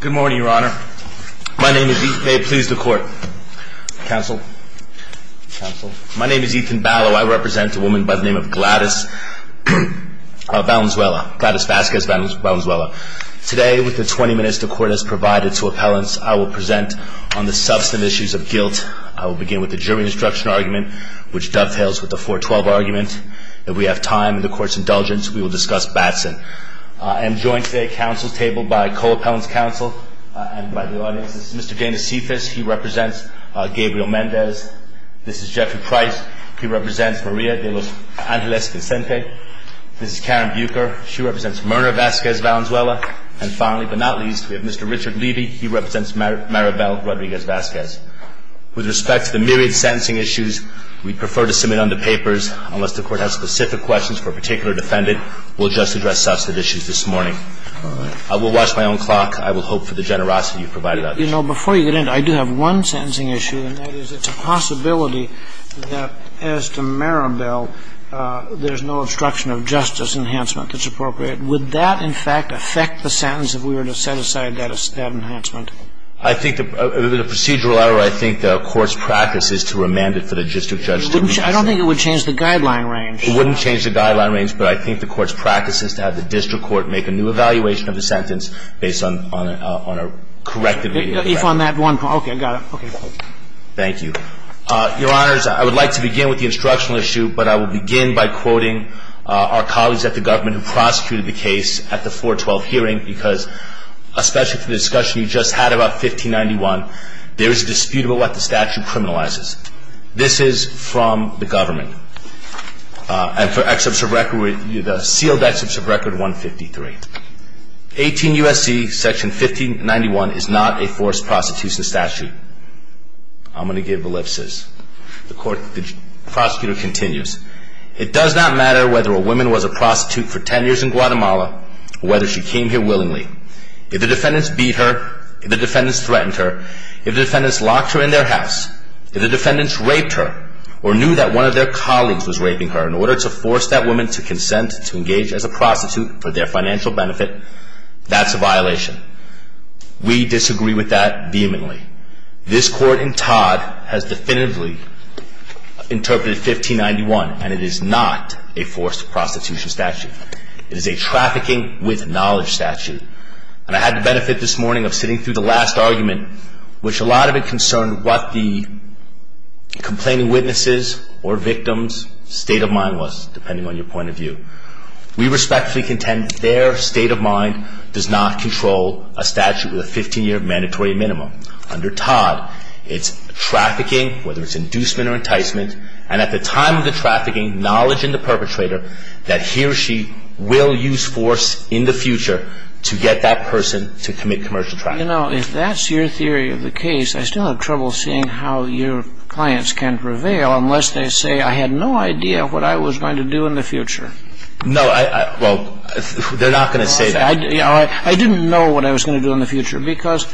Good morning, Your Honor. My name is Ethan Ballow. I represent a woman by the name of Gladys Vasquez Valenzuela. Today, with the 20 minutes the Court has provided to appellants, I will present on the substantive issues of guilt. I will begin with the jury instruction argument, which dovetails with the 412 argument. If we have time and the Court's indulgence, we will discuss Batson. I am joined today at counsel's table by co-appellant's counsel and by the audience. This is Mr. Dana Cephas. He represents Gabriel Mendez. This is Jeffrey Price. He represents Maria de los Angeles Consente. This is Karen Bucher. She represents Mirna Vasquez Valenzuela. And finally, but not least, we have Mr. Richard Levy. He represents Maribel Rodriguez Vasquez. With respect to the myriad sentencing issues, we prefer to submit under papers. Unless the Court has specific questions for a particular defendant, we'll just address substantive issues this morning. I will watch my own clock. I will hope for the generosity you've provided, Your Honor. You know, before you get in, I do have one sentencing issue, and that is it's a possibility that as to Maribel, there's no obstruction of justice enhancement that's appropriate. Would that, in fact, affect the sentence if we were to set aside that enhancement? I think the procedural error, I think the Court's practice is to remand it for the district judge to react to it. I don't think it would change the guideline range. It wouldn't change the guideline range, but I think the Court's practice is to have the district court make a new evaluation of the sentence based on a corrective review. If on that one point. Okay. I got it. Okay. Thank you. Your Honors, I would like to begin with the instructional issue, but I will begin by quoting our colleagues at the government who prosecuted the case at the 412 hearing because, especially for the discussion you just had about 1591, there is a dispute about what the statute criminalizes. This is from the government. And for excerpts of record, the sealed excerpts of record 153. 18 U.S.C. section 1591 is not a forced prostitution statute. I'm going to give ellipses. The prosecutor continues, it does not matter whether a woman was a prostitute for 10 years in Guatemala or whether she came here willingly. If the defendants beat her, if the defendants threatened her, if the defendants locked her in their house, if the defendants raped her or knew that one of their colleagues was raping her in order to force that woman to consent to engage as a prostitute for their financial benefit, that's a violation. We disagree with that vehemently. This court in Todd has definitively interpreted 1591, and it is not a forced prostitution statute. It is a trafficking with knowledge statute. And I had the benefit this morning of sitting through the last argument, which a lot of it concerned what the complaining witnesses or victims' state of mind was, depending on your point of view. We respectfully contend their state of mind does not control a statute with a 15-year mandatory minimum. Under Todd, it's trafficking, whether it's inducement or enticement, and at the time of the trafficking, knowledge in the perpetrator that he or she will use force in the future to get that person to commit commercial trafficking. But, you know, if that's your theory of the case, I still have trouble seeing how your clients can prevail unless they say, I had no idea what I was going to do in the future. No. Well, they're not going to say that. I didn't know what I was going to do in the future because,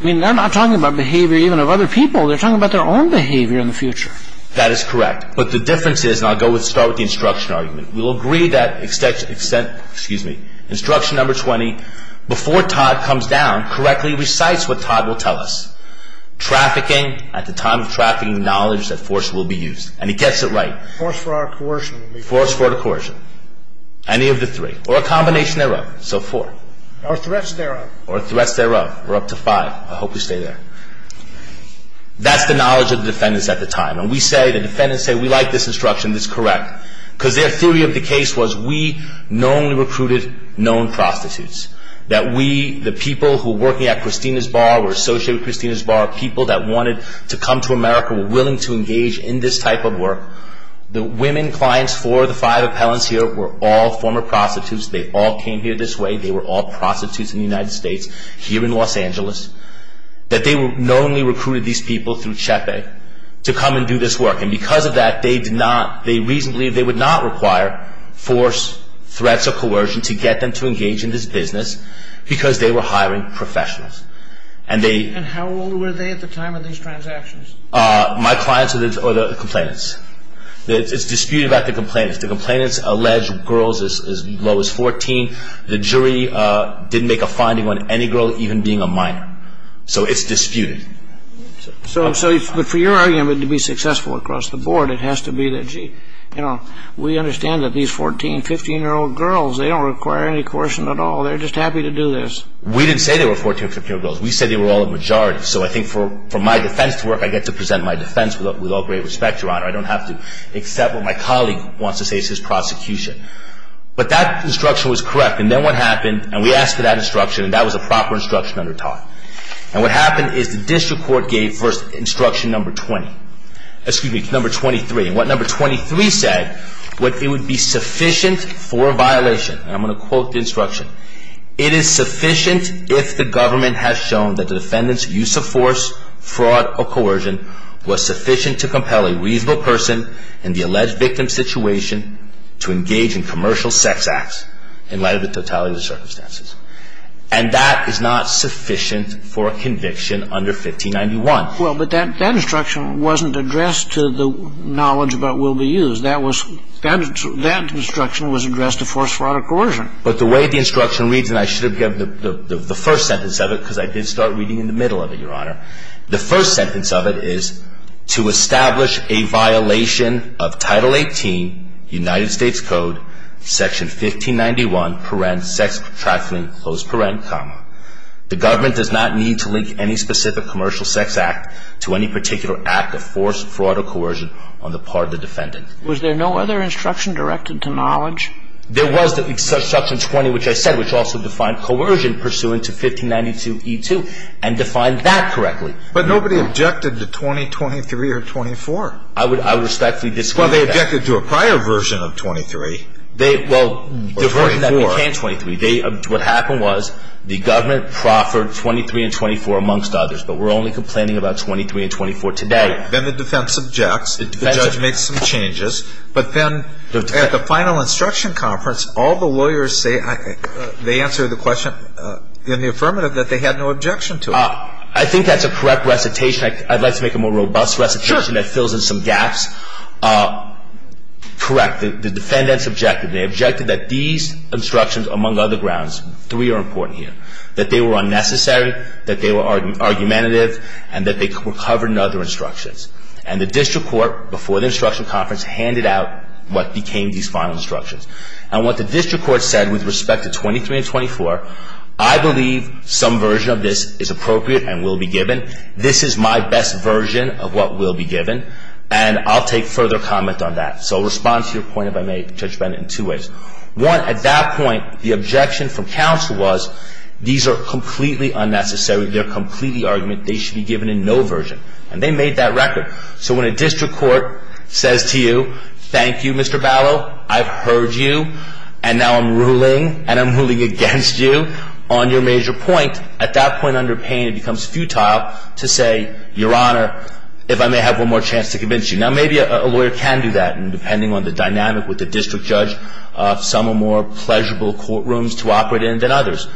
I mean, they're not talking about behavior even of other people. They're talking about their own behavior in the future. That is correct. But the difference is, and I'll start with the instruction argument, we'll agree that instruction number 20, before Todd comes down, correctly recites what Todd will tell us. Trafficking, at the time of trafficking, knowledge that force will be used. And he gets it right. Force for our coercion. Force for the coercion. Any of the three. Or a combination thereof. So four. Or threats thereof. Or threats thereof. We're up to five. I hope we stay there. That's the knowledge of the defendants at the time. And we say, the defendants say, we like this instruction. It's correct. Because their theory of the case was, we knowingly recruited known prostitutes. That we, the people who were working at Christina's Bar, were associated with Christina's Bar, people that wanted to come to America, were willing to engage in this type of work. The women clients for the five appellants here were all former prostitutes. They all came here this way. They were all prostitutes in the United States, here in Los Angeles. That they knowingly recruited these people through Chepe to come and do this work. And because of that, they did not, they reasonably, they would not require force, threats, or coercion to get them to engage in this business because they were hiring professionals. And they. And how old were they at the time of these transactions? My clients are the complainants. It's disputed about the complainants. The complainants allege girls as low as 14. The jury didn't make a finding on any girl even being a minor. So it's disputed. So, but for your argument to be successful across the board, it has to be that, gee, you know, we understand that these 14, 15-year-old girls, they don't require any coercion at all. They're just happy to do this. We didn't say they were 14, 15-year-old girls. We said they were all a majority. So I think for my defense to work, I get to present my defense with all great respect, Your Honor. I don't have to accept what my colleague wants to say. It's his prosecution. But that instruction was correct. And then what happened, and we asked for that instruction, and that was a proper instruction under TARP. And what happened is the district court gave first instruction number 20, excuse me, number 23. And what number 23 said was it would be sufficient for a violation. And I'm going to quote the instruction. It is sufficient if the government has shown that the defendant's use of force, fraud, or coercion was sufficient to compel a reasonable person in the alleged victim's situation to engage in commercial sex acts in light of the totality of the circumstances. And that is not sufficient for a conviction under 1591. Well, but that instruction wasn't addressed to the knowledge about will be used. That instruction was addressed to force, fraud, or coercion. But the way the instruction reads, and I should have given the first sentence of it because I did start reading in the middle of it, Your Honor. The first sentence of it is to establish a violation of Title 18, United States Code, Section 1591, sex, trafficking, comma. The government does not need to link any specific commercial sex act to any particular act of force, fraud, or coercion on the part of the defendant. Was there no other instruction directed to knowledge? There was the instruction 20, which I said, which also defined coercion pursuant to 1592E2, and defined that correctly. But nobody objected to 20, 23, or 24. I would respectfully disagree with that. Well, they objected to a prior version of 23. Well, the version that became 23. What happened was the government proffered 23 and 24 amongst others, but we're only complaining about 23 and 24 today. Then the defense objects. The judge makes some changes. But then at the final instruction conference, all the lawyers say they answered the question in the affirmative that they had no objection to it. I think that's a correct recitation. I'd like to make a more robust recitation that fills in some gaps. Correct. The defendants objected. They objected that these instructions, among other grounds, three are important here, that they were unnecessary, that they were argumentative, and that they were covered in other instructions. And the district court, before the instruction conference, handed out what became these final instructions. And what the district court said with respect to 23 and 24, I believe some version of this is appropriate and will be given. This is my best version of what will be given. And I'll take further comment on that. So I'll respond to your point, if I may, Judge Bennett, in two ways. One, at that point, the objection from counsel was these are completely unnecessary. They're completely argumentative. They should be given a no version. And they made that record. So when a district court says to you, thank you, Mr. Ballo, I've heard you, and now I'm ruling, and I'm ruling against you on your major point, at that point under pain it becomes futile to say, Your Honor, if I may have one more chance to convince you. Now maybe a lawyer can do that, depending on the dynamic with the district judge. Some are more pleasurable courtrooms to operate in than others.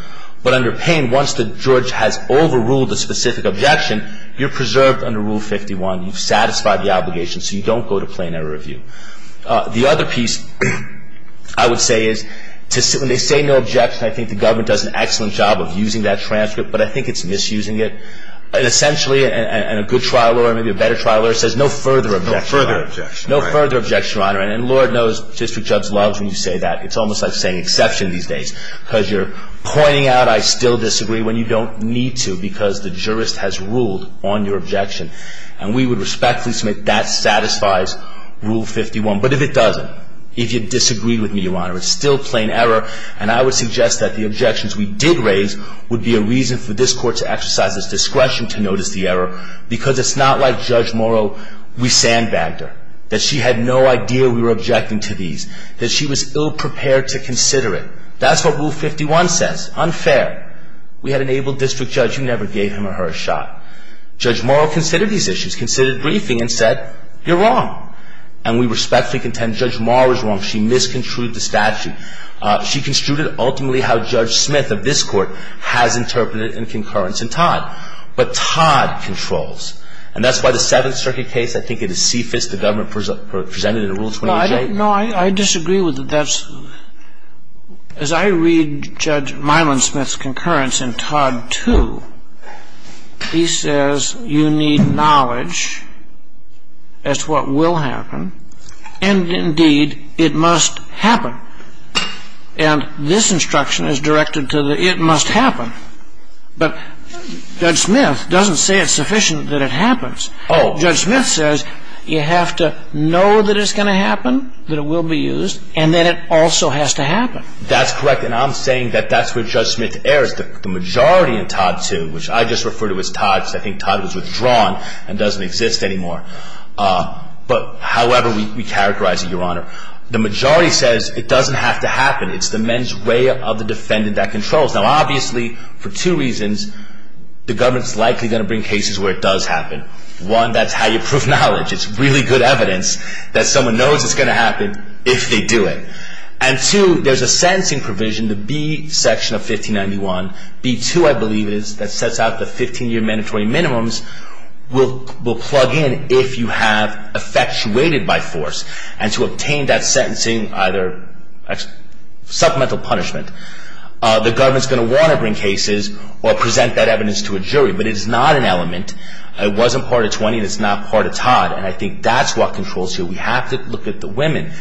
But under pain, once the judge has overruled a specific objection, you're preserved under Rule 51. You've satisfied the obligation, so you don't go to plain error review. The other piece I would say is when they say no objection, I think the government does an excellent job of using that transcript, but I think it's misusing it. And essentially, and a good trial lawyer, maybe a better trial lawyer, says no further objection. No further objection. No further objection, Your Honor. And Lord knows district judge loves when you say that. It's almost like saying exception these days, because you're pointing out I still disagree when you don't need to because the jurist has ruled on your objection. And we would respectfully submit that satisfies Rule 51. But if it doesn't, if you disagree with me, Your Honor, it's still plain error, and I would suggest that the objections we did raise would be a reason for this Court to exercise its discretion to notice the error, because it's not like Judge Morrow, we sandbagged her, that she had no idea we were objecting to these, that she was ill-prepared to consider it. That's what Rule 51 says. Unfair. We had an able district judge who never gave him or her a shot. Judge Morrow considered these issues, considered briefing, and said, you're wrong. And we respectfully contend Judge Morrow is wrong. She misconstrued the statute. And she construed it ultimately how Judge Smith of this Court has interpreted it in concurrence in Todd. But Todd controls. And that's why the Seventh Circuit case, I think it is CFIS, the government presented it in Rule 28. No, I disagree with that. As I read Judge Myland-Smith's concurrence in Todd 2, he says you need knowledge as to what will happen, and indeed it must happen. And this instruction is directed to the it must happen. But Judge Smith doesn't say it's sufficient that it happens. Judge Smith says you have to know that it's going to happen, that it will be used, and that it also has to happen. That's correct. And I'm saying that that's where Judge Smith errs. The majority in Todd 2, which I just refer to as Todd, because I think Todd was withdrawn and doesn't exist anymore. But, however, we characterize it, Your Honor. The majority says it doesn't have to happen. It's the mens rea of the defendant that controls. Now, obviously, for two reasons, the government is likely going to bring cases where it does happen. One, that's how you prove knowledge. It's really good evidence that someone knows it's going to happen if they do it. And two, there's a sentencing provision, the B section of 1591, B2, I believe it is, that sets out the 15-year mandatory minimums, will plug in if you have effectuated by force. And to obtain that sentencing, either supplemental punishment, the government is going to want to bring cases or present that evidence to a jury. But it is not an element. It wasn't part of 20 and it's not part of Todd. And I think that's what controls here. We have to look at the women.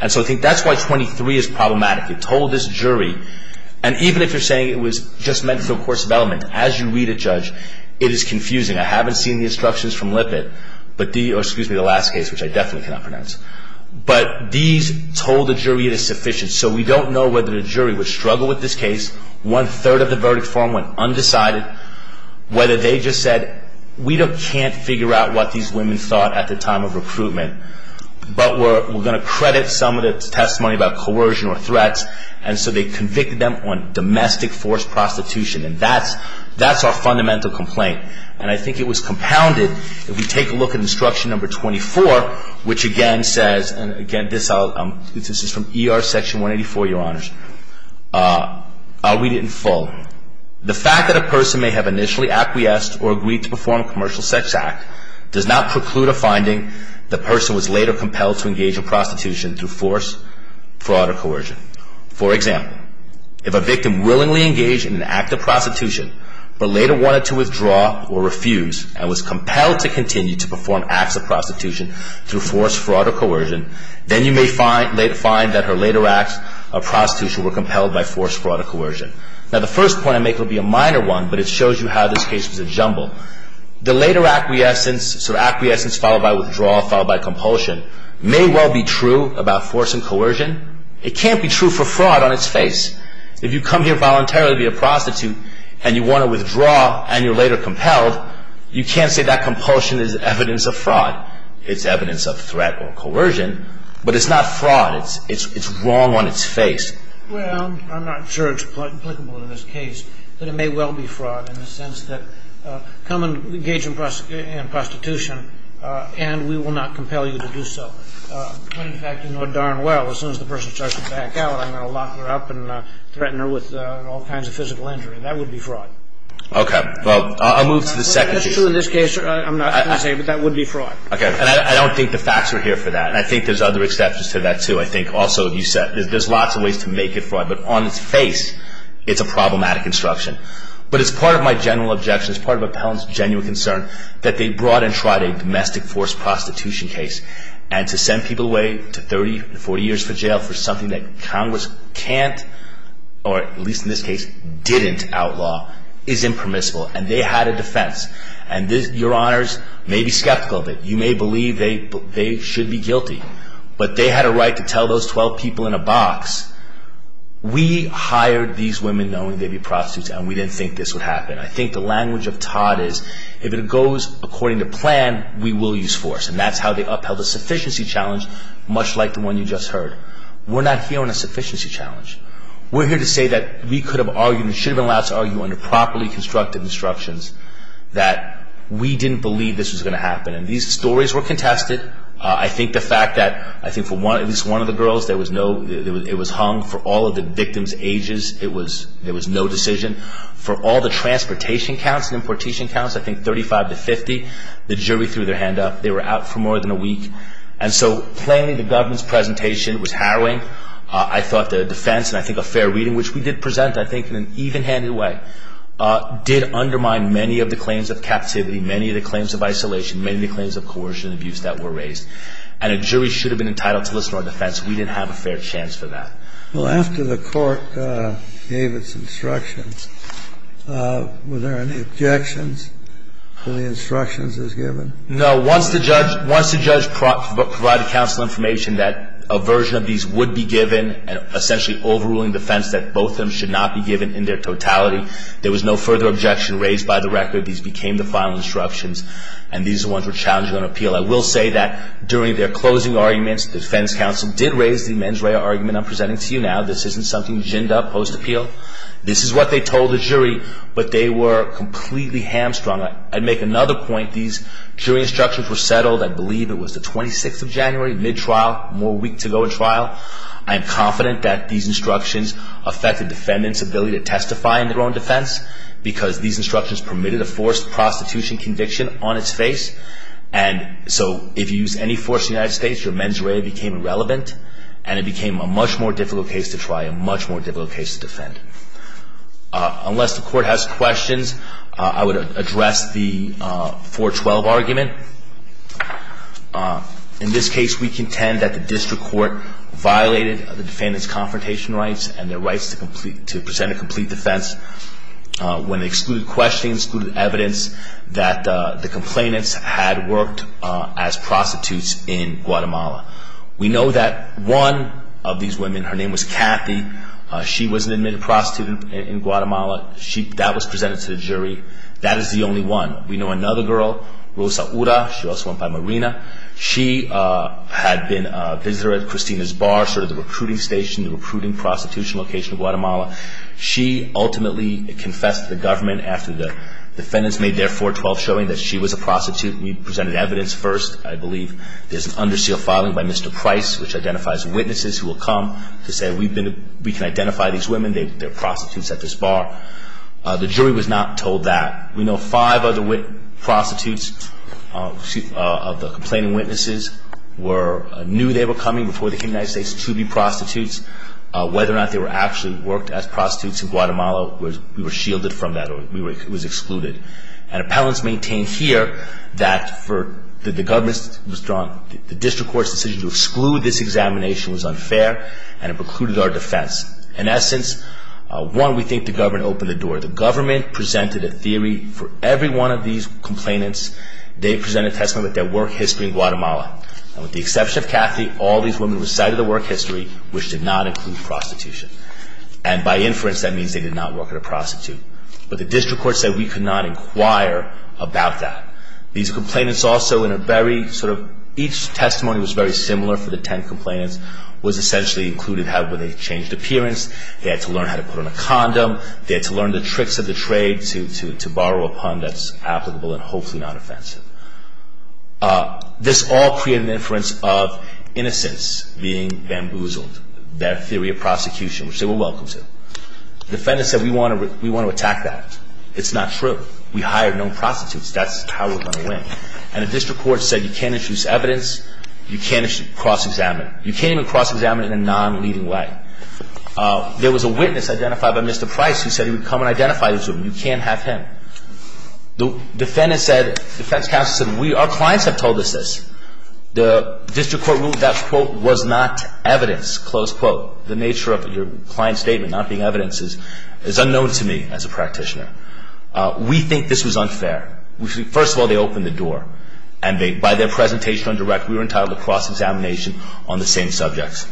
And so I think that's why 23 is problematic. It told this jury. And even if you're saying it was just meant for the course of element, as you read it, Judge, it is confusing. I haven't seen the instructions from Lippitt, or excuse me, the last case, which I definitely cannot pronounce. But these told the jury it is sufficient. So we don't know whether the jury would struggle with this case. One-third of the verdict form went undecided. Whether they just said, we can't figure out what these women thought at the time of recruitment, but we're going to credit some of the testimony about coercion or threats. And so they convicted them on domestic force prostitution. And that's our fundamental complaint. And I think it was compounded if we take a look at instruction number 24, which again says, and again, this is from ER section 184, Your Honors. I'll read it in full. The fact that a person may have initially acquiesced or agreed to perform a commercial sex act does not preclude a finding the person was later compelled to engage in prostitution through force, fraud, or coercion. For example, if a victim willingly engaged in an act of prostitution, but later wanted to withdraw or refuse, and was compelled to continue to perform acts of prostitution through force, fraud, or coercion, then you may find that her later acts of prostitution were compelled by force, fraud, or coercion. Now the first point I make will be a minor one, but it shows you how this case was a jumble. The later acquiescence followed by withdrawal, followed by compulsion, may well be true about force and coercion. It can't be true for fraud on its face. If you come here voluntarily to be a prostitute and you want to withdraw and you're later compelled, you can't say that compulsion is evidence of fraud. It's evidence of threat or coercion, but it's not fraud. It's wrong on its face. Well, I'm not sure it's applicable in this case, but it may well be fraud in the sense that come and engage in prostitution and we will not compel you to do so. But in fact, you know darn well as soon as the person starts to back out, I'm going to lock her up and threaten her with all kinds of physical injury. That would be fraud. Okay. Well, I'll move to the second issue. That's true in this case, I'm not going to say, but that would be fraud. Okay. And I don't think the facts are here for that. And I think there's other exceptions to that, too. I think also you said there's lots of ways to make it fraud, but on its face it's a problematic instruction. But it's part of my general objection, it's part of Appellant's genuine concern that they brought and tried a domestic force prostitution case and to send people away to 30 to 40 years for jail for something that Congress can't, or at least in this case didn't outlaw, is impermissible. And they had a defense. And your honors may be skeptical of it. You may believe they should be guilty. But they had a right to tell those 12 people in a box, we hired these women knowing they'd be prostitutes and we didn't think this would happen. I think the language of Todd is, if it goes according to plan, we will use force. And that's how they upheld a sufficiency challenge much like the one you just heard. We're not here on a sufficiency challenge. We're here to say that we could have argued and should have been allowed to argue under properly constructed instructions that we didn't believe this was going to happen. And these stories were contested. I think the fact that, I think for at least one of the girls, it was hung for all of the victim's ages. There was no decision. For all the transportation counts and importation counts, I think 35 to 50, the jury threw their hand up. They were out for more than a week. And so plainly the government's presentation was harrowing. I thought the defense, and I think a fair reading, which we did present I think in an even-handed way, did undermine many of the claims of captivity, many of the claims of isolation, many of the claims of coercion and abuse that were raised. And a jury should have been entitled to listen to our defense. We didn't have a fair chance for that. Well, after the court gave its instructions, were there any objections to the instructions as given? No. Once the judge provided counsel information that a version of these would be given, essentially overruling the defense that both of them should not be given in their totality, there was no further objection raised by the record. These became the final instructions, and these are the ones we're challenging on appeal. I will say that during their closing arguments, the defense counsel did raise the mens rea argument I'm presenting to you now. This isn't something ginned up post-appeal. This is what they told the jury, but they were completely hamstrung. I'd make another point. These jury instructions were settled, I believe it was the 26th of January, mid-trial, more week to go in trial. I am confident that these instructions affected defendants' ability to testify in their own defense because these instructions permitted a forced prostitution conviction on its face. And so if you use any force in the United States, your mens rea became irrelevant, and it became a much more difficult case to try, a much more difficult case to defend. Unless the court has questions, I would address the 412 argument. In this case, we contend that the district court violated the defendant's confrontation rights and their rights to present a complete defense when it excluded questions, excluded evidence that the complainants had worked as prostitutes in Guatemala. We know that one of these women, her name was Kathy, she was an admitted prostitute in Guatemala. That was presented to the jury. That is the only one. We know another girl, Rosa Ura. She also went by Marina. She had been a visitor at Christina's Bar, sort of the recruiting station, the recruiting prostitution location in Guatemala. She ultimately confessed to the government after the defendants made their 412 showing that she was a prostitute. We presented evidence first. I believe there's an under seal filing by Mr. Price, which identifies witnesses who will come to say, we can identify these women, they're prostitutes at this bar. The jury was not told that. We know five other prostitutes, of the complaining witnesses, knew they were coming before they came to the United States to be prostitutes. Whether or not they actually worked as prostitutes in Guatemala, we were shielded from that or it was excluded. And appellants maintain here that the district court's decision to exclude this examination was unfair and it precluded our defense. In essence, one, we think the government opened the door. The government presented a theory for every one of these complainants. They presented a testimony with their work history in Guatemala. And with the exception of Kathy, all these women recited their work history, which did not include prostitution. And by inference, that means they did not work as a prostitute. But the district court said we could not inquire about that. These complainants also in a very sort of, each testimony was very similar for the ten complainants, was essentially included with a changed appearance. They had to learn how to put on a condom. They had to learn the tricks of the trade to borrow a pun that's applicable and hopefully not offensive. This all created an inference of innocence being bamboozled, their theory of prosecution, which they were welcome to. Defendants said we want to attack that. It's not true. We hired no prostitutes. That's how we're going to win. And the district court said you can't introduce evidence. You can't cross-examine. You can't even cross-examine in a non-leading way. There was a witness identified by Mr. Price who said he would come and identify this woman. You can't have him. Defendants said, defense counsel said, our clients have told us this. The district court ruled that, quote, was not evidence, close quote. The nature of your client's statement not being evidence is unknown to me as a practitioner. We think this was unfair. First of all, they opened the door, and by their presentation on direct, we were entitled to cross-examination on the same subjects.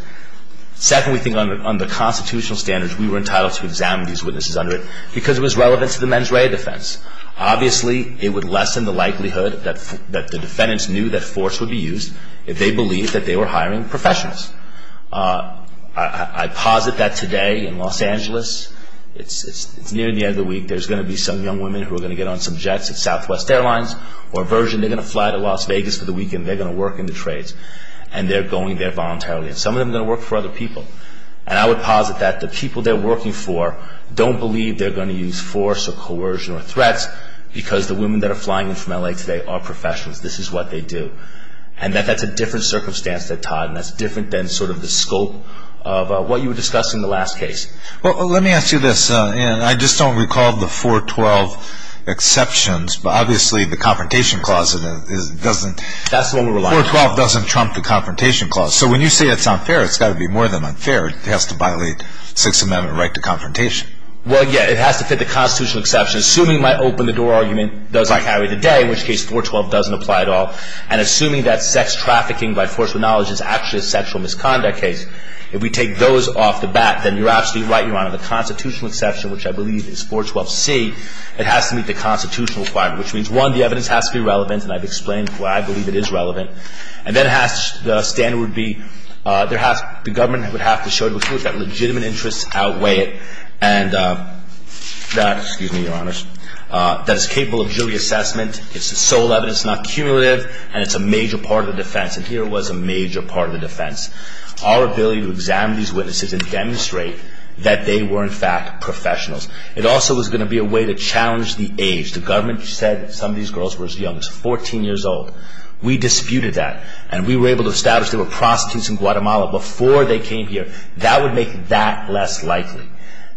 Second, we think under constitutional standards, we were entitled to examine these witnesses under it because it was relevant to the mens rea defense. Obviously, it would lessen the likelihood that the defendants knew that force would be used if they believed that they were hiring professionals. I posit that today in Los Angeles, it's near the end of the week, there's going to be some young women who are going to get on some jets at Southwest Airlines or Virgin. They're going to fly to Las Vegas for the weekend. They're going to work in the trades, and they're going there voluntarily. Some of them are going to work for other people, and I would posit that the people they're working for don't believe they're going to use force or coercion or threats because the women that are flying in from L.A. today are professionals. This is what they do, and that that's a different circumstance than Todd, and that's different than sort of the scope of what you were discussing in the last case. Well, let me ask you this, and I just don't recall the 412 exceptions, but obviously the Confrontation Clause doesn't trump the Confrontation Clause. So when you say it's unfair, it's got to be more than unfair. It has to violate Sixth Amendment right to confrontation. Well, yeah, it has to fit the constitutional exception. Assuming my open-the-door argument doesn't carry today, in which case 412 doesn't apply at all, and assuming that sex trafficking by force of knowledge is actually a sexual misconduct case, if we take those off the bat, then you're absolutely right, Your Honor. The constitutional exception, which I believe is 412C, it has to meet the constitutional requirement, which means, one, the evidence has to be relevant, and I've explained why I believe it is relevant, and then it has to be, the standard would be, the government would have to show that legitimate interests outweigh it, and that, excuse me, Your Honors, that it's capable of jury assessment. It's the sole evidence, not cumulative, and it's a major part of the defense, and here was a major part of the defense. Our ability to examine these witnesses and demonstrate that they were, in fact, professionals. It also was going to be a way to challenge the age. The government said some of these girls were as young as 14 years old. We disputed that, and we were able to establish they were prostitutes in Guatemala before they came here. That would make that less likely.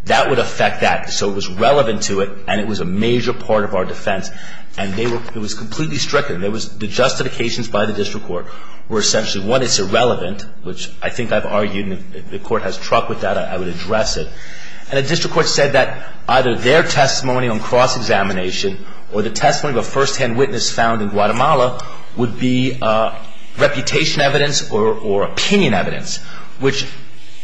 That would affect that, so it was relevant to it, and it was a major part of our defense, and it was completely stricken. The justifications by the district court were essentially, one, it's irrelevant, which I think I've argued, and if the court has truck with that, I would address it, and the district court said that either their testimony on cross-examination or the testimony of a firsthand witness found in Guatemala would be reputation evidence or opinion evidence, which,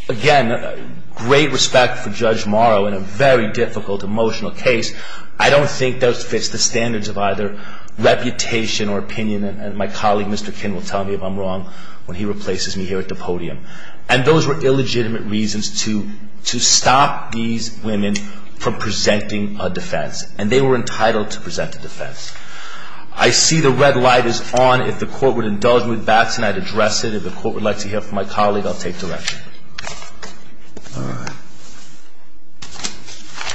again, great respect for Judge Morrow in a very difficult emotional case. I don't think that fits the standards of either reputation or opinion, and my colleague, Mr. Kinn, will tell me if I'm wrong when he replaces me here at the podium. And those were illegitimate reasons to stop these women from presenting a defense, and they were entitled to present a defense. I see the red light is on. If the court would indulge me with Batson, I'd address it. If the court would like to hear from my colleague, I'll take direction. All right.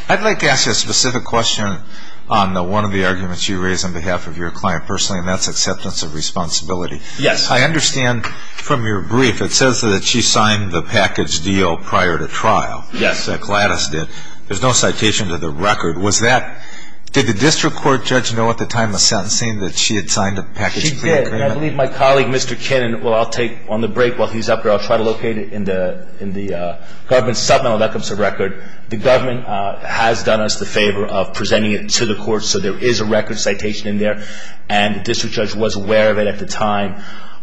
I'd like to ask you a specific question on one of the arguments you raised on behalf of your client personally, and that's acceptance of responsibility. Yes. I understand from your brief it says that she signed the package deal prior to trial. Yes. Gladys did. There's no citation to the record. Was that ñ did the district court judge know at the time of sentencing that she had signed a package deal? She did, and I believe my colleague, Mr. Kinn, Well, I'll take on the break while he's up there. I'll try to locate it in the government submittal that comes to record. The government has done us the favor of presenting it to the court, so there is a record citation in there, and the district judge was aware of it at the time.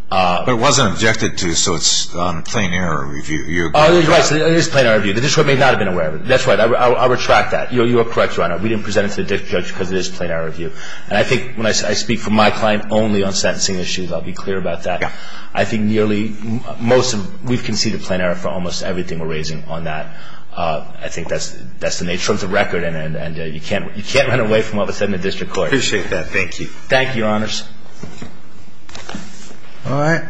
But it wasn't objected to, so it's on plain error review. You're correct. It is plain error review. The district court may not have been aware of it. That's right. I'll retract that. You are correct, Your Honor. We didn't present it to the district judge because it is plain error review. And I think when I speak for my client only on sentencing issues, I'll be clear about that. Yeah. I think nearly most of ñ we've conceded plain error for almost everything we're raising on that. I think that's the nature of the record, and you can't run away from what was said in the district court. Appreciate that. Thank you. Thank you, Your Honors. All right.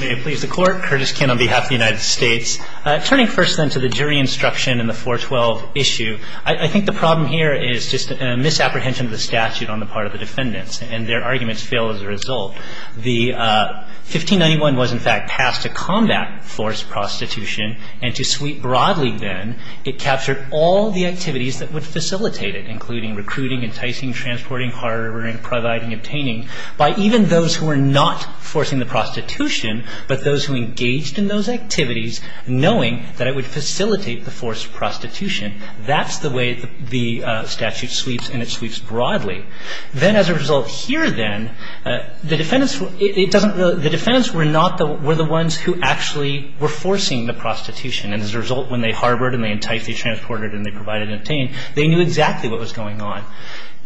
May it please the Court. Curtis Kin on behalf of the United States. Turning first, then, to the jury instruction in the 412 issue, I think the problem here is just a misapprehension of the statute on the part of the defendants, and their arguments fail as a result. The 1591 was, in fact, passed to combat forced prostitution, and to sweep broadly then, it captured all the activities that would facilitate it, including recruiting, enticing, transporting, harboring, providing, obtaining, by even those who were not forcing the prostitution, but those who engaged in those activities, knowing that it would facilitate the forced prostitution. That's the way the statute sweeps, and it sweeps broadly. Then, as a result here, then, the defendants were not the ones who actually were forcing the prostitution, and as a result, when they harbored and they enticed, they transported and they provided and obtained, they knew exactly what was going on.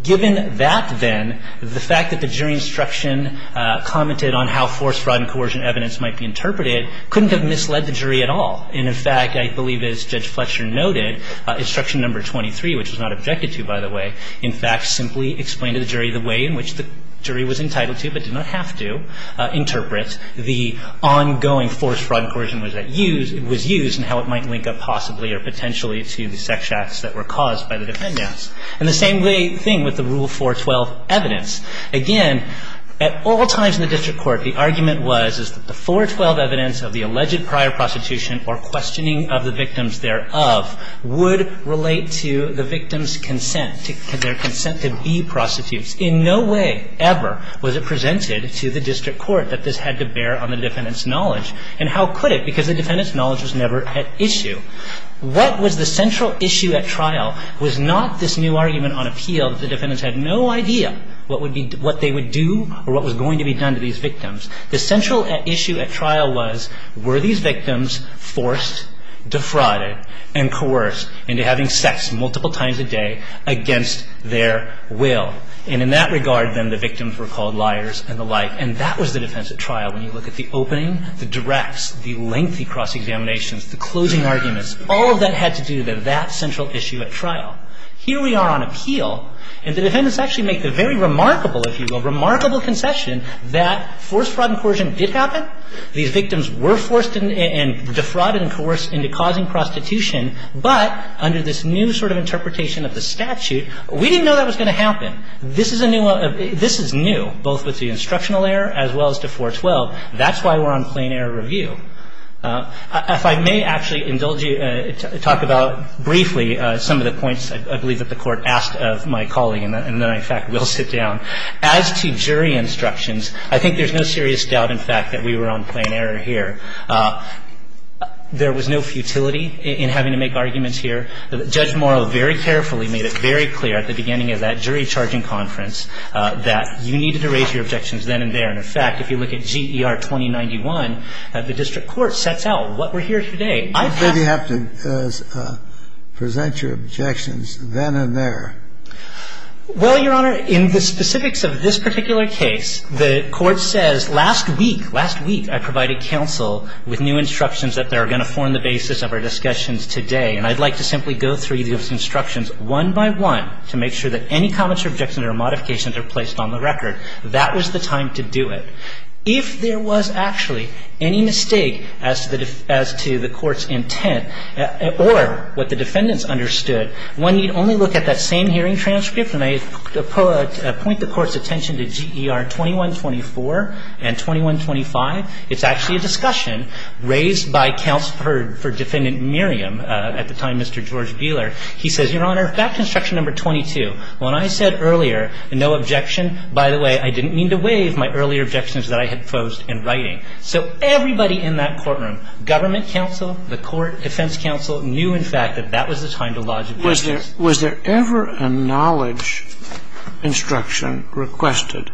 Given that, then, the fact that the jury instruction commented on how forced fraud and coercion evidence might be interpreted couldn't have misled the jury at all. And, in fact, I believe as Judge Fletcher noted, instruction number 23, which was not objected to, by the way, in fact simply explained to the jury the way in which the jury was entitled to, but did not have to, interpret the ongoing forced fraud and coercion that was used and how it might link up possibly or potentially to the sex acts that were caused by the defendants. And the same thing with the Rule 412 evidence. Again, at all times in the district court, the argument was, is that the 412 evidence of the alleged prior prostitution or questioning of the victims thereof would relate to the victim's consent, their consent to be prostitutes. In no way ever was it presented to the district court that this had to bear on the defendants' knowledge. And how could it? Because the defendants' knowledge was never at issue. What was the central issue at trial was not this new argument on appeal that the defendants had no idea what they would do or what was going to be done to these victims. The central issue at trial was, were these victims forced, defrauded, and coerced into having sex multiple times a day against their will? And in that regard, then, the victims were called liars and the like. And that was the defense at trial. When you look at the opening, the directs, the lengthy cross-examinations, the closing arguments, all of that had to do with that central issue at trial. Here we are on appeal, and the defendants actually make the very remarkable, if you will, remarkable concession that forced fraud and coercion did happen. These victims were forced and defrauded and coerced into causing prostitution, but under this new sort of interpretation of the statute, we didn't know that was going to happen. This is a new one. This is new, both with the instructional error as well as to 412. That's why we're on plain error review. If I may actually indulge you, talk about briefly some of the points, I believe, that the Court asked of my colleague, and then I, in fact, will sit down. As to jury instructions, I think there's no serious doubt, in fact, that we were on plain error here. There was no futility in having to make arguments here. Judge Morrow very carefully made it very clear at the beginning of that jury charging conference that you needed to raise your objections then and there. And, in fact, if you look at GER 2091, the district court sets out what we're here today. I've had to ---- Kennedy, you have to present your objections then and there. Well, Your Honor, in the specifics of this particular case, the Court says last week, last week, I provided counsel with new instructions that are going to form the basis of our discussions today, and I'd like to simply go through those instructions one by one to make sure that any comments or objections or modifications are placed on the record. That was the time to do it. If there was actually any mistake as to the Court's intent or what the defendants understood, when you'd only look at that same hearing transcript, and I point the Court's attention to GER 2124 and 2125, it's actually a discussion raised by counsel for Defendant Merriam at the time, Mr. George Beeler. He says, Your Honor, back to instruction number 22. When I said earlier, no objection, by the way, I didn't mean to waive my earlier objections that I had posed in writing. So everybody in that courtroom, government counsel, the court, defense counsel, knew, in fact, that that was the time to lodge objections. Was there ever a knowledge instruction requested,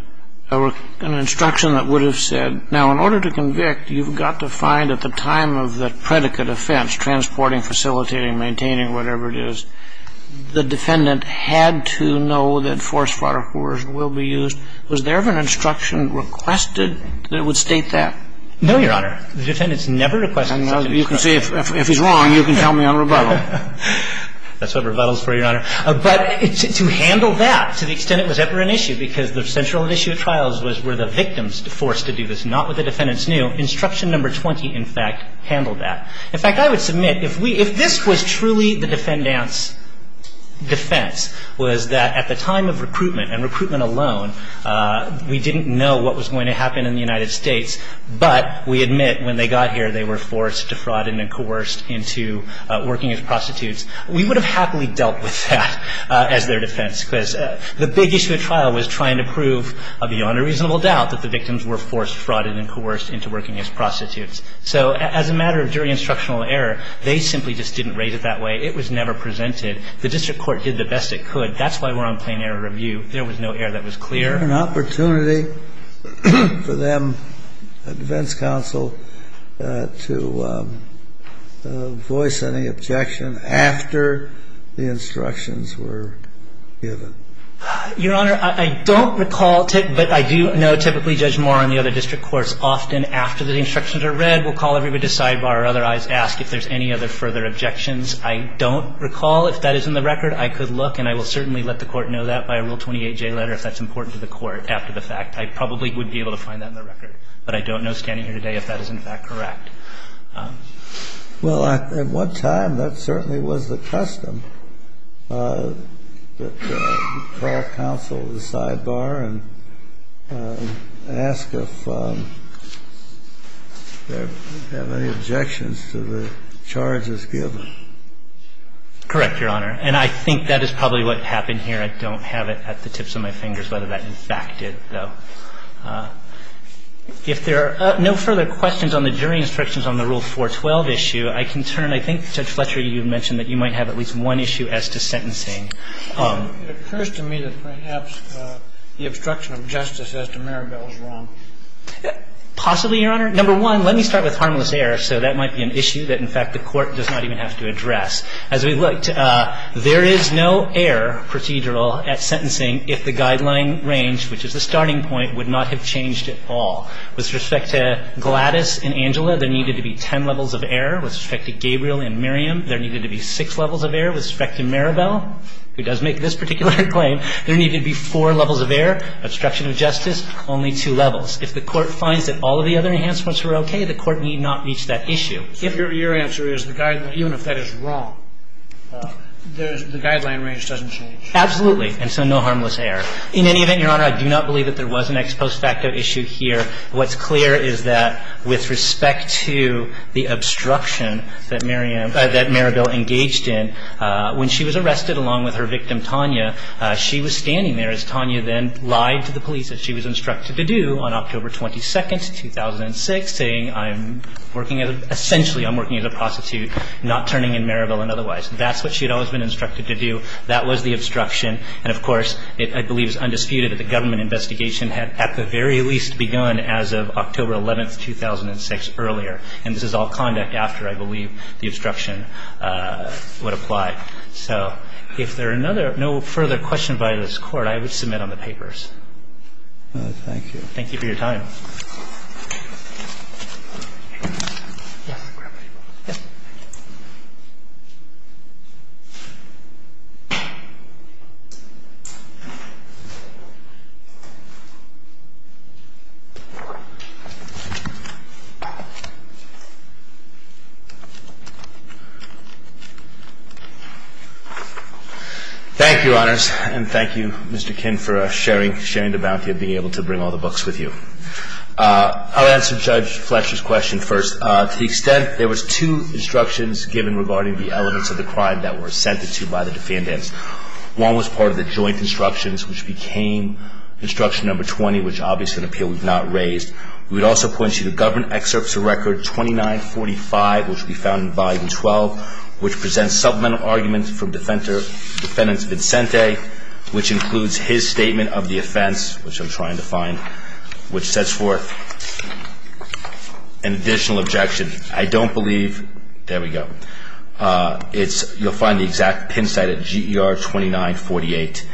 an instruction that would have said, now, in order to convict, you've got to find at the time of the predicate of the offense, transporting, facilitating, maintaining, whatever it is, the defendant had to know that force, fire, coercion will be used? Was there ever an instruction requested that would state that? No, Your Honor. The defendants never requested that. And now you can say, if he's wrong, you can tell me on rebuttal. That's what rebuttal is for, Your Honor. But to handle that to the extent it was ever an issue, because the central issue of trials was were the victims forced to do this, not what the defendants knew, instruction number 20, in fact, handled that. In fact, I would submit, if we – if this was truly the defendants' defense, was that at the time of recruitment, and recruitment alone, we didn't know what was going to happen in the United States, but we admit when they got here they were forced, defrauded, and coerced into working as prostitutes, we would have happily dealt with that as their defense, because the big issue of trial was trying to prove beyond a reasonable doubt that the victims were forced, frauded, and coerced into working as prostitutes. So as a matter of jury instructional error, they simply just didn't rate it that way. It was never presented. The district court did the best it could. That's why we're on plain error review. There was no error that was clear. Was there an opportunity for them, the defense counsel, to voice any objection after the instructions were given? Your Honor, I don't recall, but I do know typically Judge Mohr and the other district courts often, after the instructions are read, will call everybody to sidebar or otherwise ask if there's any other further objections. I don't recall. If that is in the record, I could look, and I will certainly let the Court know that by a Rule 28J letter if that's important to the Court after the fact. I probably would be able to find that in the record, but I don't know, standing here today, if that is, in fact, correct. Well, at one time, that certainly was the custom, that you call counsel to sidebar and ask if they have any objections to the charges given. Correct, Your Honor. And I think that is probably what happened here. I don't have it at the tips of my fingers whether that, in fact, did, though. If there are no further questions on the jury instructions on the Rule 412 issue, I can turn. I think, Judge Fletcher, you mentioned that you might have at least one issue as to sentencing. It occurs to me that perhaps the obstruction of justice as to Maribel is wrong. Possibly, Your Honor. Number one, let me start with harmless error. So that might be an issue that, in fact, the Court does not even have to address. As we looked, there is no error procedural at sentencing if the guideline range, which is the starting point, would not have changed at all. With respect to Gladys and Angela, there needed to be ten levels of error. With respect to Gabriel and Miriam, there needed to be six levels of error. With respect to Maribel, who does make this particular claim, there needed to be four levels of error. Obstruction of justice, only two levels. If the Court finds that all of the other enhancements were okay, the Court need not reach that issue. If your answer is the guideline, even if that is wrong, the guideline range doesn't change. Absolutely. And so no harmless error. In any event, Your Honor, I do not believe that there was an ex post facto issue here. What's clear is that with respect to the obstruction that Miriam – that Maribel engaged in, when she was arrested along with her victim, Tanya, she was standing there as Tanya then lied to the police, as she was instructed to do, on October 22nd, 2006, saying, I'm working – essentially, I'm working as a prostitute, not turning in Maribel and otherwise. That's what she had always been instructed to do. That was the obstruction. And, of course, I believe it's undisputed that the government investigation had at the very least begun as of October 11th, 2006, earlier. And this is all conduct after, I believe, the obstruction would apply. So if there are no further questions by this Court, I would submit on the papers. Thank you. Thank you for your time. Thank you, Your Honors. And thank you, Mr. Kinn, for sharing the bounty of being able to bring all the books with you. I'll answer Judge Fletcher's question first. To the extent, there was two instructions given regarding the elements of the crime that were assented to by the defendants. One was part of the joint instructions, which became instruction number 20, which obviously an appeal was not raised. We would also point you to Government Excerpts of Record 2945, which we found in Volume 12, which presents submental arguments from Defendant Vincente, which includes his statement of the offense, which I'm trying to find, which sets forth an additional objection. I don't believe, there we go. You'll find the exact pin site at GER 2948.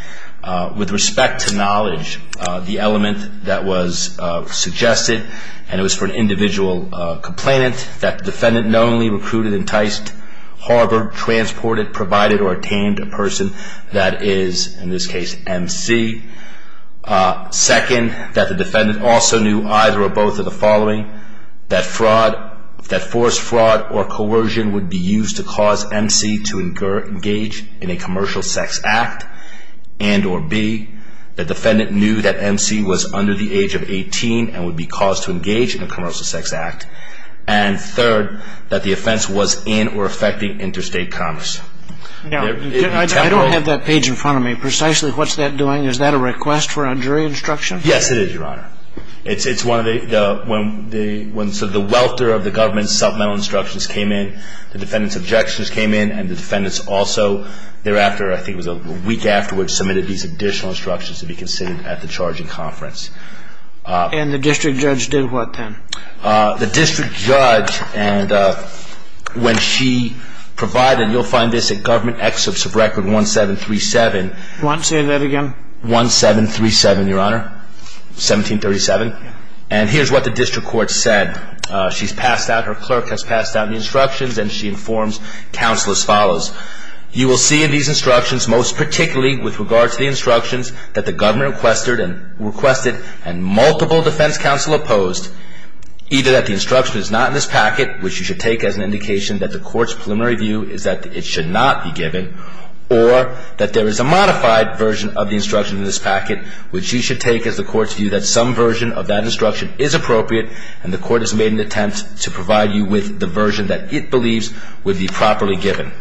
With respect to knowledge, the element that was suggested, and it was for an individual complainant, that defendant knowingly recruited, enticed, harbored, transported, provided, or attained a person that is, in this case, M.C. Second, that the defendant also knew either or both of the following, that fraud, that forced fraud or coercion would be used to cause M.C. to engage in a commercial sex act, and or be, the defendant knew that M.C. was under the age of 18 and would be caused to engage in a commercial sex act. And third, that the offense was in or affecting interstate commerce. Now, I don't have that page in front of me. Precisely, what's that doing? Is that a request for a jury instruction? Yes, it is, Your Honor. It's one of the, when the, when sort of the welter of the government's submental instructions came in, the defendant's objections came in, and the defendants also thereafter, I think it was a week afterwards, submitted these additional instructions to be considered at the charging conference. And the district judge did what then? The district judge, and when she provided, you'll find this at government excerpts of record 1737. Say that again. 1737, Your Honor, 1737. And here's what the district court said. She's passed out, her clerk has passed out the instructions, and she informs counsel as follows. You will see in these instructions, most particularly with regard to the instructions that the government requested and multiple defense counsel opposed, either that the instruction is not in this packet, which you should take as an indication that the court's preliminary view is that it should not be given, or that there is a modified version of the instruction in this packet, which you should take as the court's view that some version of that instruction is appropriate, and the court has made an attempt to provide you with the version that it believes would be properly given.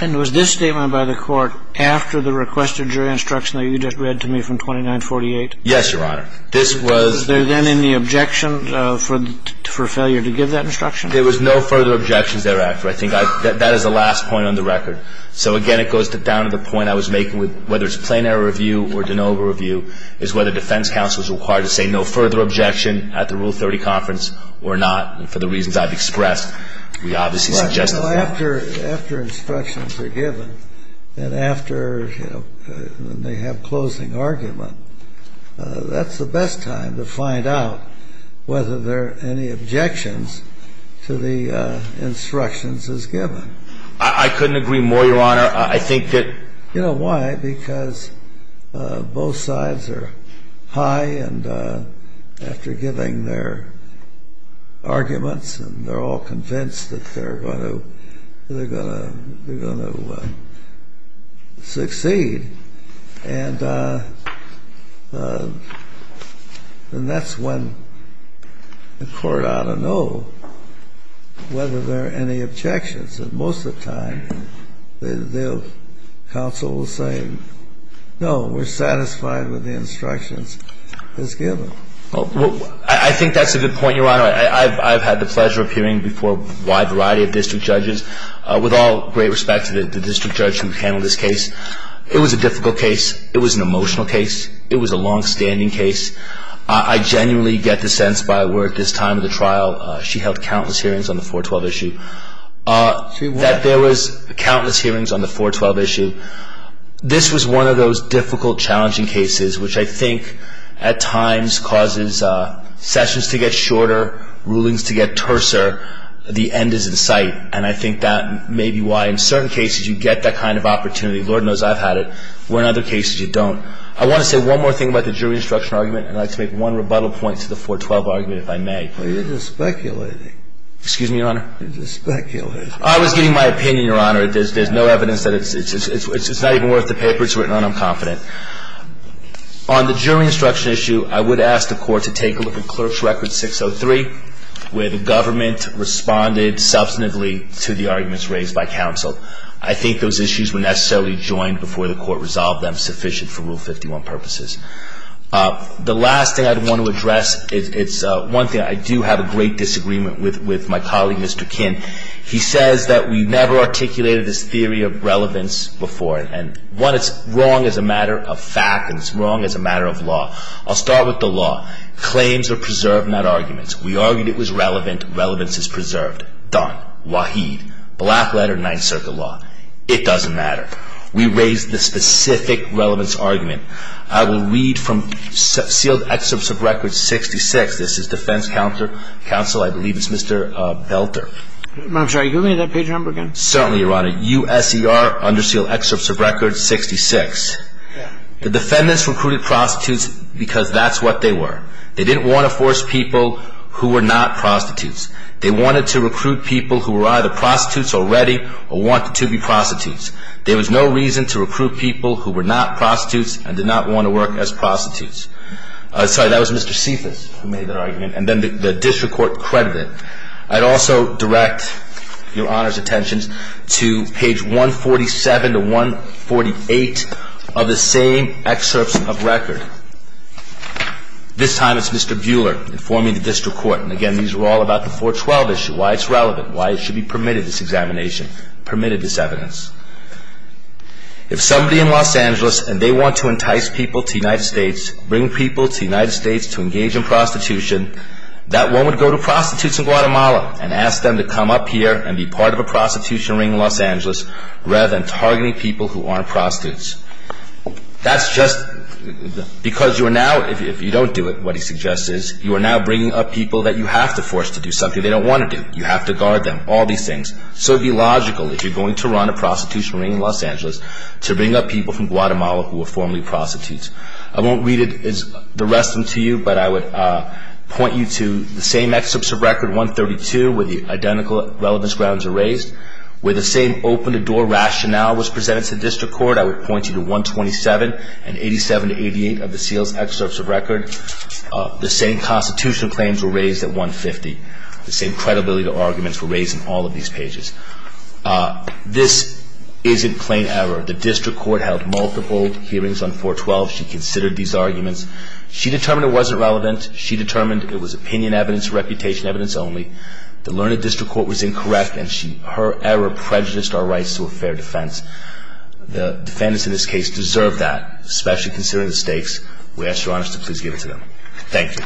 And was this statement by the court after the requested jury instruction that you just read to me from 2948? Yes, Your Honor. Was there then any objection for failure to give that instruction? There was no further objections thereafter. I think that is the last point on the record. So, again, it goes down to the point I was making with whether it's a plain error review or de novo review is whether defense counsel is required to say no further objection at the Rule 30 conference or not. And for the reasons I've expressed, we obviously suggested that. Well, after instructions are given and after they have closing argument, that's the best time to find out whether there are any objections to the instructions as given. I couldn't agree more, Your Honor. I think that... You know why? Because both sides are high, and after giving their arguments, they're all convinced that they're going to succeed. And that's when the court ought to know whether there are any objections. And most of the time, the counsel will say, no, we're satisfied with the instructions as given. Well, I think that's a good point, Your Honor. I've had the pleasure of hearing before a wide variety of district judges. With all great respect to the district judge who handled this case, it was a difficult case. It was an emotional case. It was a longstanding case. I genuinely get the sense by where at this time of the trial, she held countless hearings on the 412 issue. That there was countless hearings on the 412 issue. This was one of those difficult, challenging cases, which I think at times causes sessions to get shorter, rulings to get terser. The end is in sight. And I think that may be why in certain cases you get that kind of opportunity. Lord knows I've had it, where in other cases you don't. I want to say one more thing about the jury instruction argument, and I'd like to make one rebuttal point to the 412 argument, if I may. You're just speculating. Excuse me, Your Honor? You're just speculating. I was giving my opinion, Your Honor. There's no evidence that it's not even worth the paper it's written on, I'm confident. On the jury instruction issue, I would ask the court to take a look at Clerk's Record 603, where the government responded substantively to the arguments raised by counsel. I think those issues were necessarily joined before the court resolved them sufficient for Rule 51 purposes. The last thing I want to address, it's one thing I do have a great disagreement with my colleague, Mr. Kinn. He says that we never articulated this theory of relevance before. One, it's wrong as a matter of fact, and it's wrong as a matter of law. I'll start with the law. Claims are preserved, not arguments. We argued it was relevant. Relevance is preserved. Done. Waheed. Black letter, Ninth Circuit law. It doesn't matter. We raised the specific relevance argument. I will read from sealed excerpts of Record 66. This is defense counsel, I believe it's Mr. Belter. I'm sorry, can you give me that page number again? Certainly, Your Honor. USER, under sealed excerpts of Record 66. The defendants recruited prostitutes because that's what they were. They didn't want to force people who were not prostitutes. They wanted to recruit people who were either prostitutes already or wanted to be prostitutes. There was no reason to recruit people who were not prostitutes and did not want to work as prostitutes. Sorry, that was Mr. Cephas who made that argument, and then the district court credited it. I'd also direct Your Honor's attention to page 147 to 148 of the same excerpts of Record. This time it's Mr. Buehler informing the district court, and again these are all about the 412 issue, why it's relevant, why it should be permitted, this examination, permitted this evidence. If somebody in Los Angeles and they want to entice people to the United States, bring people to the United States to engage in prostitution, that one would go to prostitutes in Guatemala and ask them to come up here and be part of a prostitution ring in Los Angeles rather than targeting people who aren't prostitutes. That's just because you are now, if you don't do it, what he suggests is, you are now bringing up people that you have to force to do something they don't want to do. You have to guard them, all these things. So it would be logical if you're going to run a prostitution ring in Los Angeles to bring up people from Guatemala who were formerly prostitutes. I won't read the rest of them to you, but I would point you to the same excerpts of Record 132 where the identical relevance grounds are raised, where the same open-the-door rationale was presented to the district court. I would point you to 127 and 87 to 88 of the Seals' excerpts of Record. The same constitutional claims were raised at 150. The same credibility to arguments were raised in all of these pages. This isn't plain error. The district court held multiple hearings on 412. She considered these arguments. She determined it wasn't relevant. She determined it was opinion evidence, reputation evidence only. The learned district court was incorrect, and her error prejudiced our rights to a fair defense. The defendants in this case deserve that, especially considering the stakes. We ask Your Honor to please give it to them. Thank you.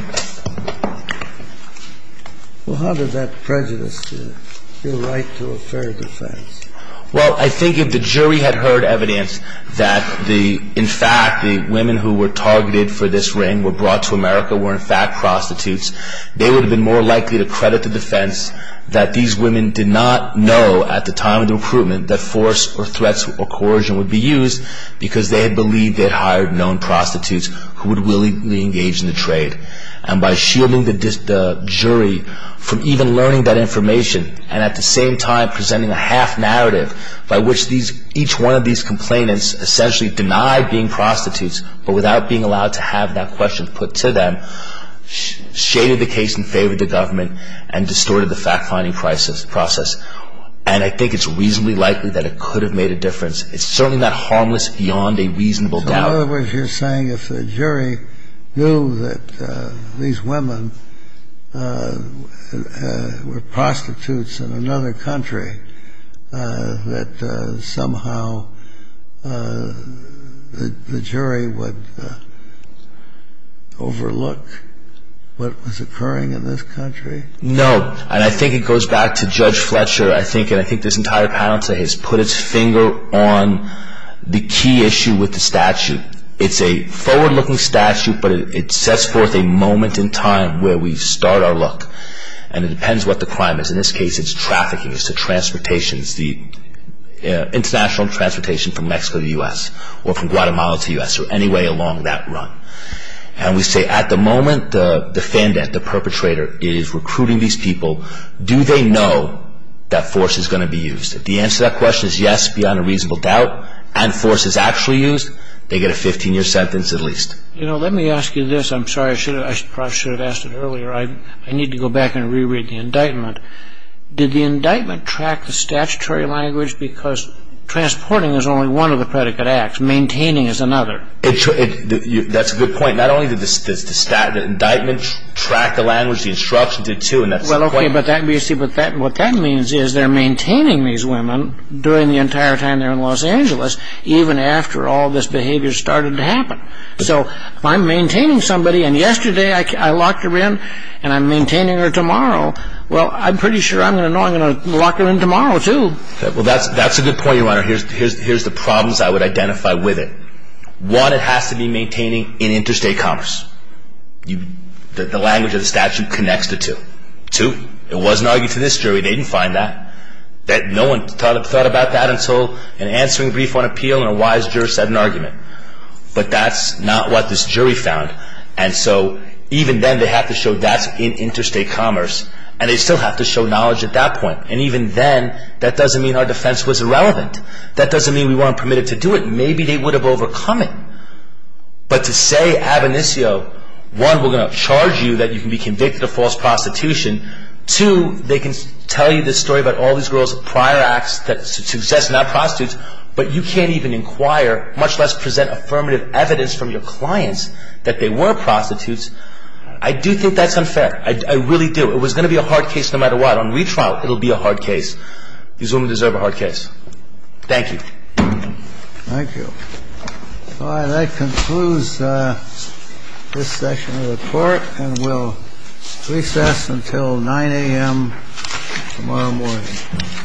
Well, how did that prejudice your right to a fair defense? Well, I think if the jury had heard evidence that, in fact, the women who were targeted for this ring were brought to America, were in fact prostitutes, they would have been more likely to credit the defense that these women did not know at the time of the recruitment that force or threats or coercion would be used because they had believed they had hired known prostitutes who would willingly engage in the trade. And by shielding the jury from even learning that information and at the same time presenting a half-narrative by which each one of these complainants essentially denied being prostitutes but without being allowed to have that question put to them, shaded the case in favor of the government and distorted the fact-finding process. And I think it's reasonably likely that it could have made a difference. It's certainly not harmless beyond a reasonable doubt. So in other words, you're saying if the jury knew that these women were prostitutes in another country, that somehow the jury would overlook what was occurring in this country? No. And I think it goes back to Judge Fletcher. I think this entire panel today has put its finger on the key issue with the statute. It's a forward-looking statute, but it sets forth a moment in time where we start our look. And it depends what the crime is. In this case, it's trafficking. It's the transportation. It's the international transportation from Mexico to the U.S. or from Guatemala to the U.S. or any way along that run. And we say at the moment, the defendant, the perpetrator is recruiting these people. Do they know that force is going to be used? If the answer to that question is yes, beyond a reasonable doubt, and force is actually used, they get a 15-year sentence at least. Let me ask you this. I'm sorry. I probably should have asked it earlier. I need to go back and reread the indictment. Did the indictment track the statutory language? Because transporting is only one of the predicate acts. Maintaining is another. That's a good point. Not only did the indictment track the language, the instruction did too, and that's the point. Well, okay. But what that means is they're maintaining these women during the entire time they're in Los Angeles, even after all this behavior started to happen. So if I'm maintaining somebody and yesterday I locked her in and I'm maintaining her tomorrow, well, I'm pretty sure I'm going to know I'm going to lock her in tomorrow too. Well, that's a good point, Your Honor. Here's the problems I would identify with it. One, it has to be maintaining in interstate commerce. The language of the statute connects the two. Two, it wasn't argued to this jury. They didn't find that. No one thought about that until an answering brief on appeal and a wise juror said an argument. But that's not what this jury found. And so even then, they have to show that's in interstate commerce, and they still have to show knowledge at that point. And even then, that doesn't mean our defense was irrelevant. That doesn't mean we weren't permitted to do it. Maybe they would have overcome it. But to say, ab initio, one, we're going to charge you that you can be convicted of false prostitution. Two, they can tell you this story about all these girls prior acts that's success, not prostitutes, but you can't even inquire, much less present affirmative evidence from your clients that they were prostitutes. I do think that's unfair. I really do. It was going to be a hard case no matter what. On retrial, it will be a hard case. These women deserve a hard case. Thank you. Thank you. All right. That concludes this session of the court, and we'll recess until 9 a.m. tomorrow morning.